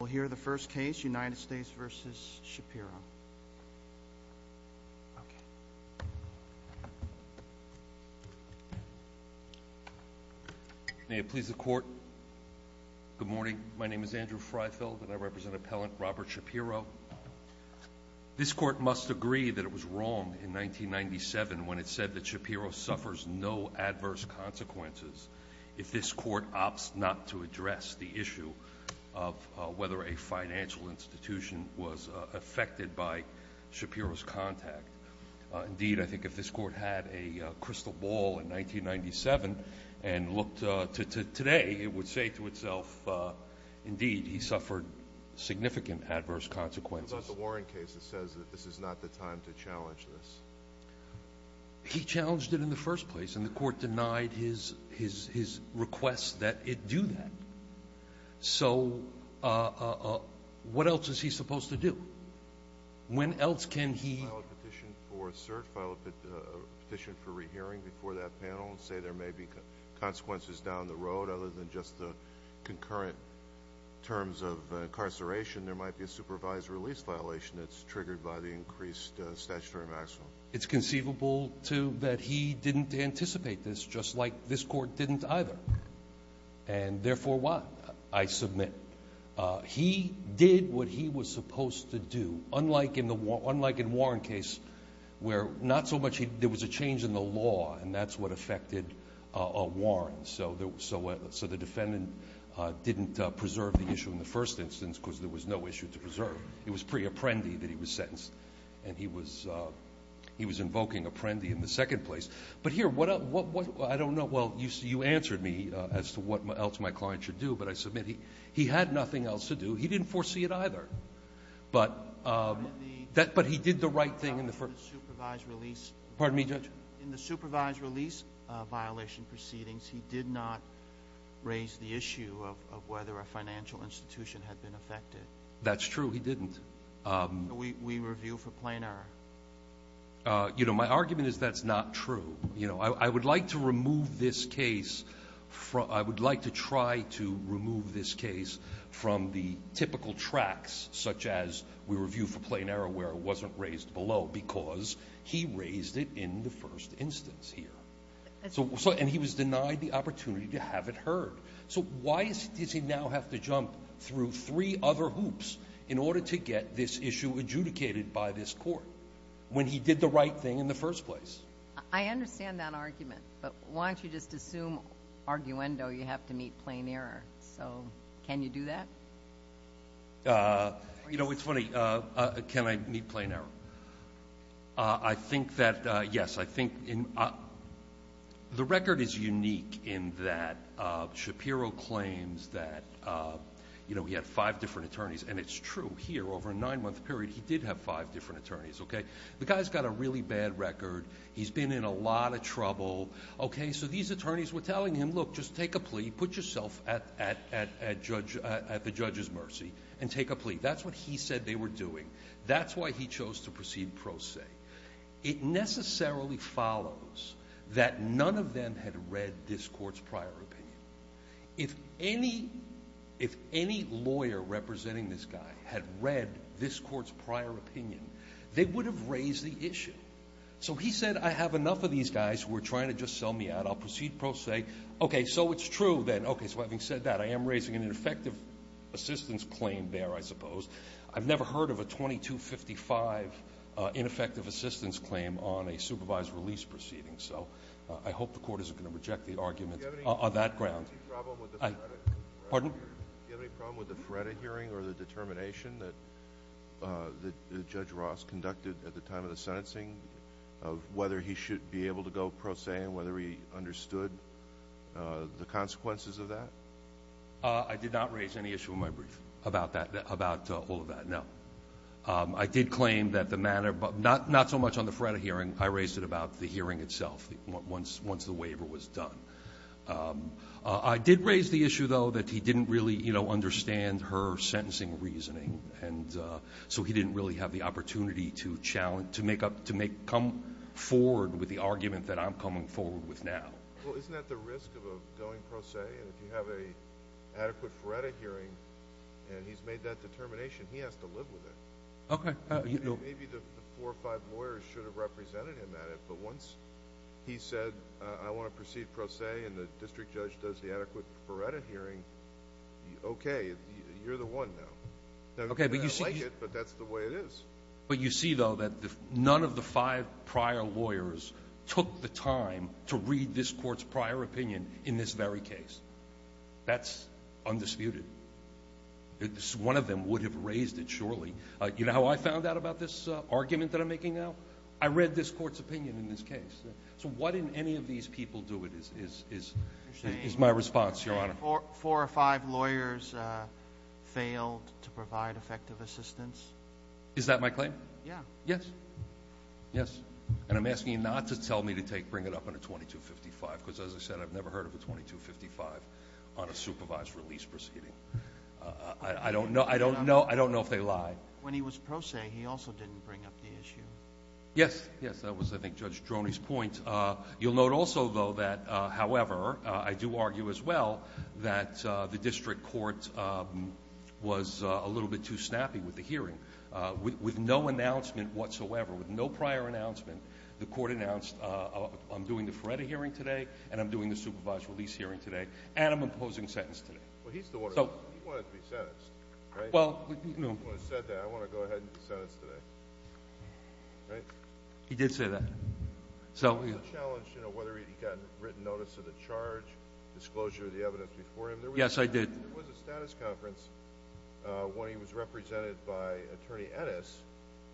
We'll hear the first case, United States v. Shapiro. May it please the Court. Good morning. My name is Andrew Freifeld and I represent Appellant Robert Shapiro. This Court must agree that it was wrong in 1997 when it said that Shapiro suffers no adverse consequences if this Court opts not to address the issue of whether a financial institution was affected by Shapiro's contact. Indeed, I think if this Court had a crystal ball in 1997 and looked to today, it would say to itself indeed he suffered significant adverse consequences. What about the Warren case that says that this is not the time to challenge this? He challenged it in the first place and the Court denied his request that it do that. So what else is he supposed to do? When else can he — He filed a petition for cert, filed a petition for rehearing before that panel and say there may be consequences down the road other than just the concurrent terms of incarceration. There might be a supervised release violation that's triggered by the increased statutory maximum. It's conceivable, too, that he didn't anticipate this, just like this Court didn't either. And therefore what? I submit he did what he was supposed to do, unlike in the Warren case where not so much — there was a change in the law and that's what affected Warren. So the defendant didn't preserve the issue in the first instance because there was no issue to preserve. It was pre-apprendi that he was sentenced. And he was invoking apprendi in the second place. But here, what else? I don't know. Well, you answered me as to what else my client should do, but I submit he had nothing else to do. He didn't foresee it either. But he did the right thing in the first — In the supervised release — Pardon me, Judge? In the supervised release violation proceedings, he did not raise the issue of whether a financial institution had been affected. That's true. He didn't. We review for plain error. You know, my argument is that's not true. You know, I would like to remove this case from — I would like to try to remove this case from the typical tracks, such as we review for plain error where it wasn't raised below, because he raised it in the first instance here. And he was denied the opportunity to have it heard. So why does he now have to jump through three other hoops in order to get this issue adjudicated by this court, when he did the right thing in the first place? I understand that argument. But why don't you just assume, arguendo, you have to meet plain error? So can you do that? You know, it's funny. Can I meet plain error? I think that — yes, I think — the record is unique in that Shapiro claims that, you know, he had five different attorneys. And it's true. Here, over a nine-month period, he did have five different attorneys, OK? The guy's got a really bad record. He's been in a lot of trouble, OK? So these attorneys were telling him, look, just take a plea. Put yourself at the judge's mercy and take a plea. That's what he said they were doing. That's why he chose to proceed pro se. It necessarily follows that none of them had read this court's prior opinion. If any lawyer representing this guy had read this court's prior opinion, they would have raised the issue. So he said, I have enough of these guys who are trying to just sell me out. I'll proceed pro se. OK, so it's true, then. OK, so having said that, I am raising an ineffective assistance claim there, I suppose. I've never heard of a 2255 ineffective assistance claim on a supervised release proceeding. So I hope the court isn't going to reject the argument on that ground. Do you have any problem with the Feretta hearing or the determination that Judge Ross conducted at the time of the sentencing of whether he should be able to go pro se and whether he understood the consequences of that? I did not raise any issue in my brief about that, about all of that, no. I did claim that the manner, but not so much on the Feretta hearing. I raised it about the hearing itself, once the waiver was done. I did raise the issue, though, that he didn't really, you know, understand her sentencing reasoning. And so he didn't really have the opportunity to challenge, to make up, to come forward with the argument that I'm coming forward with now. Well, isn't that the risk of going pro se? And if you have an adequate Feretta hearing and he's made that determination, he has to live with it. OK. Maybe the four or five lawyers should have represented him at it, but once he said, I want to proceed pro se, and the district judge does the adequate Feretta hearing, OK, you're the one now. OK, but you see- I like it, but that's the way it is. But you see, though, that none of the five prior lawyers took the time to read this court's prior opinion in this very case. That's undisputed. One of them would have raised it, surely. You know how I found out about this argument that I'm making now? I read this court's opinion in this case. So why didn't any of these people do it, is my response, Your Honor. Four or five lawyers failed to provide effective assistance. Is that my claim? Yeah. Yes. Yes. And I'm asking you not to tell me to bring it up on a 2255, because as I said, I've never heard of a 2255 on a supervised release proceeding. I don't know if they lie. When he was pro se, he also didn't bring up the issue. Yes, yes. That was, I think, Judge Droney's point. You'll note also, though, that, however, I do argue as well that the district court was a little bit too snappy with the hearing. With no announcement whatsoever, with no prior announcement, the court announced, I'm doing the Feretta hearing today, and I'm doing the supervised release hearing today, and I'm imposing sentence today. Well, he's the one who wanted to be sentenced, right? Well, no. He said that, I want to go ahead and be sentenced today. He did say that. So, yeah. Was it a challenge, you know, whether he got written notice of the charge, disclosure of the evidence before him? Yes, I did. There was a status conference when he was represented by Attorney Ennis,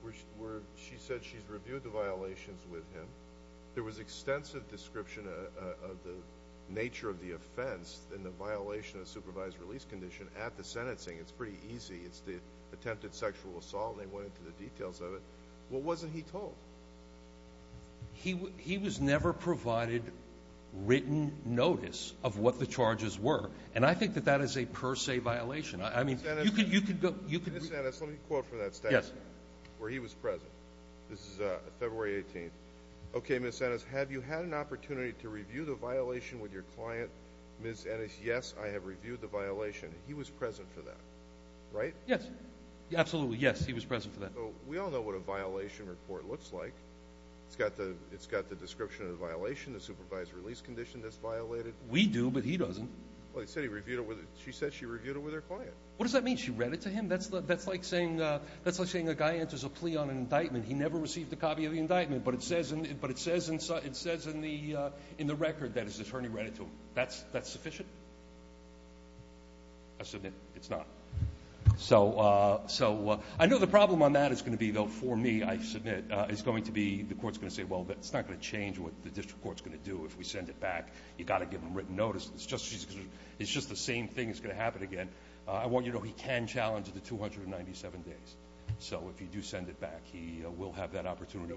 where she said she's reviewed the violations with him. There was extensive description of the nature of the offense and the violation of supervised release condition at the sentencing. It's pretty easy. It's the attempted sexual assault, and they went into the details of it. What wasn't he told? He was never provided written notice of what the charges were. And I think that that is a per se violation. I mean, you could go... Ms. Ennis, let me quote from that statement, where he was present. This is February 18th. Okay, Ms. Ennis, have you had an opportunity to review the violation with your client? Ms. Ennis, yes, I have reviewed the violation. He was present for that, right? Yes, absolutely. Yes, he was present for that. We all know what a violation report looks like. It's got the description of the violation, the supervised release condition that's violated. We do, but he doesn't. Well, he said he reviewed it with... She said she reviewed it with her client. What does that mean? She read it to him? That's like saying a guy enters a plea on an indictment. He never received a copy of the indictment, but it says in the record that his attorney read it to him. That's sufficient? I submit it's not. So I know the problem on that is going to be, though, for me, I submit, is going to be... The court's going to say, well, that's not going to change what the district court's going to do if we send it back. You've got to give him written notice. It's just the same thing. It's going to happen again. I want you to know he can challenge it to 297 days. So if you do send it back, he will have that opportunity,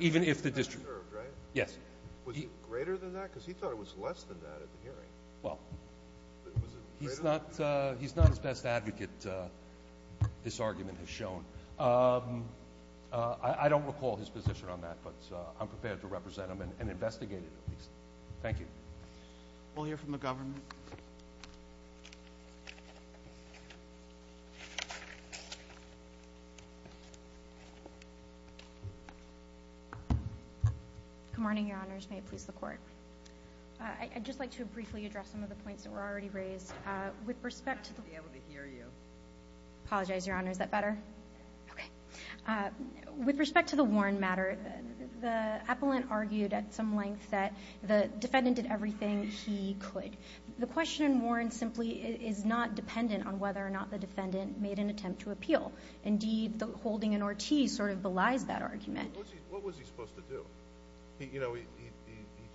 even if the district... Was it greater than that? Because he thought it was less than that at the hearing. Well, he's not his best advocate, this argument has shown. I don't recall his position on that, but I'm prepared to represent him and investigate it. Thank you. We'll hear from the government. Good morning, Your Honors. May it please the Court. I'd just like to briefly address some of the points that were already raised. With respect to... I should be able to hear you. Apologize, Your Honor. Is that better? Okay. With respect to the Warren matter, the appellant argued at some length that the defendant did everything he could. The question in Warren simply is not dependent on whether or not the defendant made an attempt to appeal. Indeed, the holding in Ortiz sort of belies that argument. What was he supposed to do? You know, he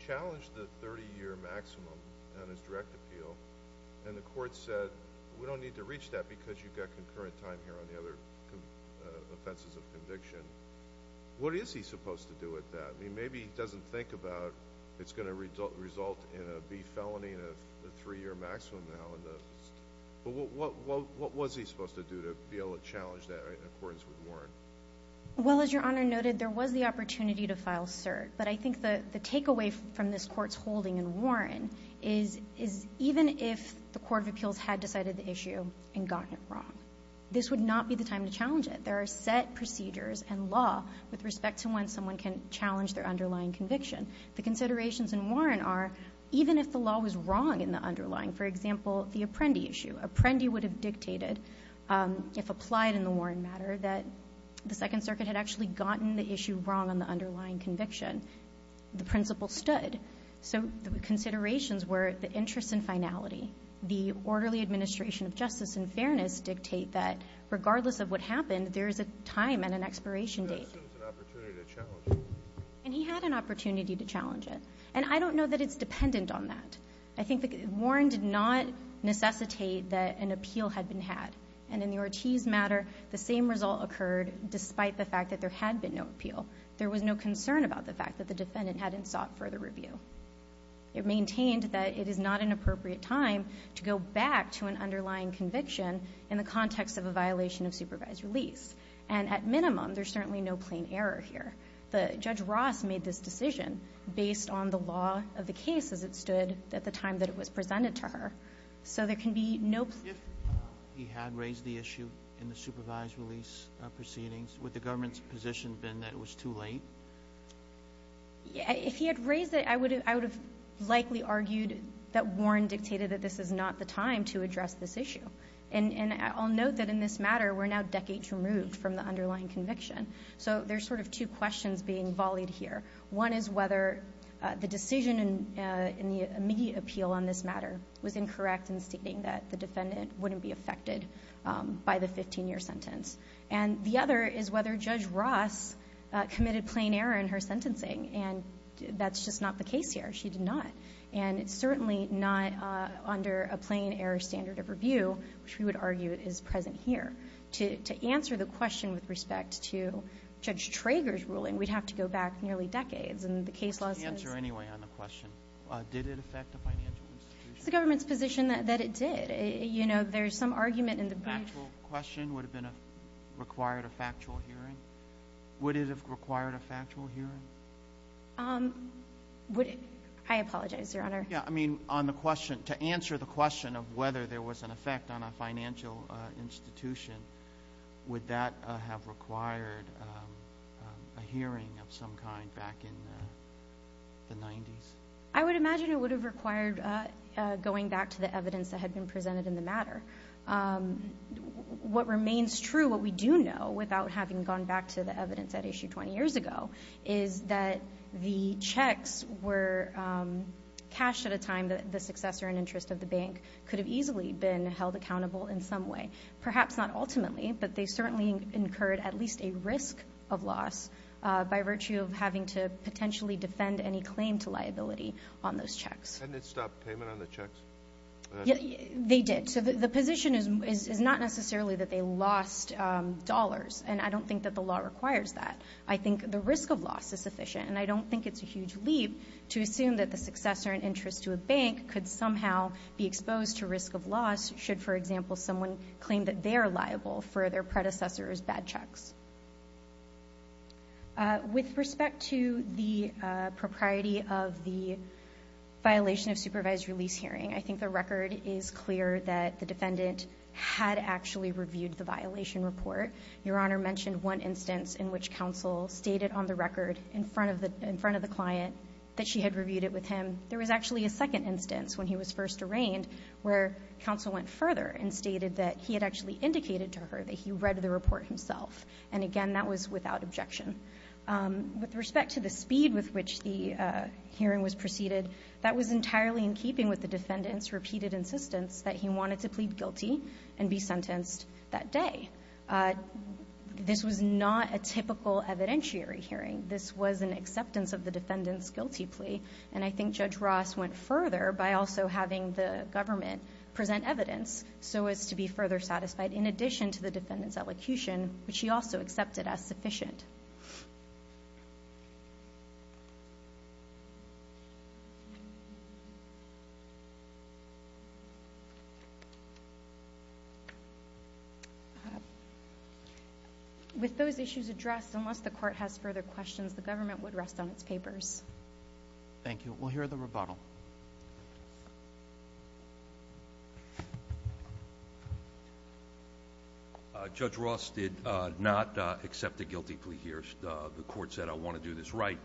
challenged the 30-year maximum on his direct appeal, and the Court said, we don't need to reach that because you've got concurrent time here on the other offenses of conviction. What is he supposed to do with that? Maybe he doesn't think about it's going to result in a B felony and a 3-year maximum now. But what was he supposed to do to be able to challenge that in accordance with Warren? Well, as Your Honor noted, there was the opportunity to file cert. But I think the takeaway from this Court's holding in Warren is even if the Court of Appeals had decided the issue and gotten it wrong, this would not be the time to challenge it. There are set procedures and law with respect to when someone can challenge their underlying conviction. The considerations in Warren are, even if the law was wrong in the underlying — for example, the Apprendi issue. Apprendi would have dictated, if applied in the Warren matter, that the Second Circuit had actually gotten the issue wrong on the underlying conviction. The principle stood. So the considerations were the interest in finality. The orderly administration of justice and fairness dictate that regardless of what happened, there is a time and an expiration date. But that still is an opportunity to challenge it. And he had an opportunity to challenge it. And I don't know that it's dependent on that. I think that Warren did not necessitate that an appeal had been had. And in the Ortiz matter, the same result occurred despite the fact that there had been no appeal. There was no concern about the fact that the defendant hadn't sought further review. It maintained that it is not an appropriate time to go back to an underlying conviction in the context of a violation of supervised release. And at minimum, there's certainly no plain error here. The — Judge Ross made this decision based on the law of the case as it stood at the time that it was presented to her. So there can be no — Roberts. If he had raised the issue in the supervised release proceedings, would the government's position have been that it was too late? O'Connell. If he had raised it, I would have — I would have likely argued that Warren dictated that this is not the time to address this issue. And I'll note that in this matter, we're now decades removed from the underlying conviction. So there's sort of two questions being volleyed here. One is whether the decision in the immediate appeal on this matter was incorrect in stating that the defendant wouldn't be affected by the 15-year sentence. And the other is whether Judge Ross committed plain error in her sentencing. And that's just not the case here. She did not. And it's certainly not under a plain error standard of review, which we would argue is present here. To answer the question with respect to Judge Trager's ruling, we'd have to go back nearly decades. And the case law says — What's the answer, anyway, on the question? Did it affect the financial institution? It's the government's position that it did. You know, there's some argument in the brief — The factual question, would it have been — required a factual hearing? Would it have required a factual hearing? Would — I apologize. Yeah, I mean, on the question — to answer the question of whether there was an effect on a financial institution, would that have required a hearing of some kind back in the 90s? I would imagine it would have required going back to the evidence that had been presented in the matter. What remains true, what we do know, without having gone back to the evidence at issue 20 years ago, is that the checks were cashed at a time that the successor in interest of the bank could have easily been held accountable in some way. Perhaps not ultimately, but they certainly incurred at least a risk of loss by virtue of having to potentially defend any claim to liability on those checks. And it stopped payment on the checks? They did. So the position is not necessarily that they lost dollars. And I don't think that the law requires that. The risk of loss is sufficient. And I don't think it's a huge leap to assume that the successor in interest to a bank could somehow be exposed to risk of loss should, for example, someone claim that they are liable for their predecessor's bad checks. With respect to the propriety of the violation of supervised release hearing, I think the record is clear that the defendant had actually reviewed the violation report. Your Honor mentioned one instance in which counsel stated on the record in front of the client that she had reviewed it with him. There was actually a second instance when he was first arraigned where counsel went further and stated that he had actually indicated to her that he read the report himself. And again, that was without objection. With respect to the speed with which the hearing was proceeded, that was entirely in keeping with the defendant's repeated insistence that he wanted to plead guilty and be sentenced that day. This was not a typical evidentiary hearing. This was an acceptance of the defendant's guilty plea. And I think Judge Ross went further by also having the government present evidence so as to be further satisfied in addition to the defendant's elocution, which she also accepted as sufficient. With those issues addressed, unless the court has further questions, the government would rest on its papers. Thank you. We'll hear the rebuttal. Judge Ross did not accept a guilty plea here. The court said, I want to do this right.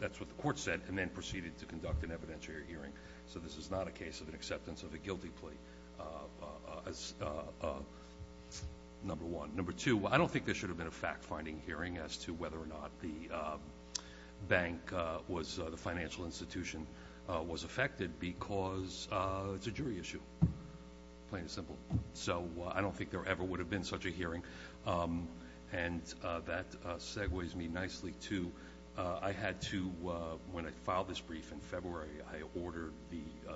That's what the court said and then proceeded to conduct an evidentiary hearing. So this is not a case of an acceptance of a guilty plea, number one. Number two, I don't think there should have been a fact-finding hearing as to whether or not the bank was, the financial institution was affected because it's a jury issue, plain and simple. So I don't think there ever would have been such a hearing. And that segues me nicely to, I had to, when I filed this brief in February, I ordered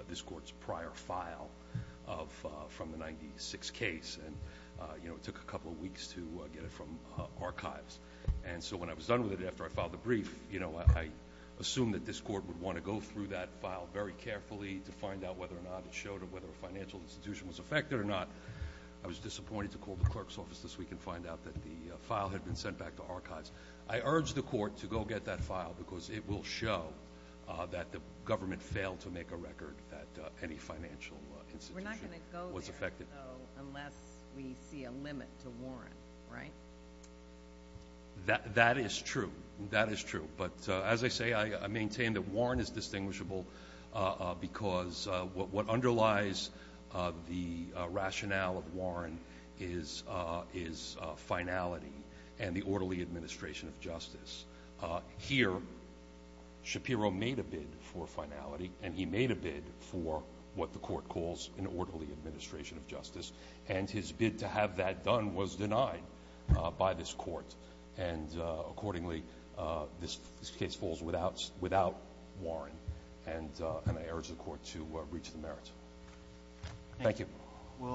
this court's prior file from the 1996 case. And it took a couple of weeks to get it from archives. And so when I was done with it after I filed the brief, I assumed that this court would want to go through that file very carefully to find out whether or not it showed whether a financial institution was affected or not. I was disappointed to call the clerk's office this week and find out that the file had been sent back to archives. I urge the court to go get that file because it will show that the government failed to record that any financial institution was affected. We're not going to go there, though, unless we see a limit to Warren, right? That is true. That is true. But as I say, I maintain that Warren is distinguishable because what underlies the rationale of Warren is finality and the orderly administration of justice. Here, Shapiro made a bid for finality, and he made a bid for what the court calls an orderly administration of justice. And his bid to have that done was denied by this court. And accordingly, this case falls without Warren. And I urge the court to reach the merits. Thank you. Well,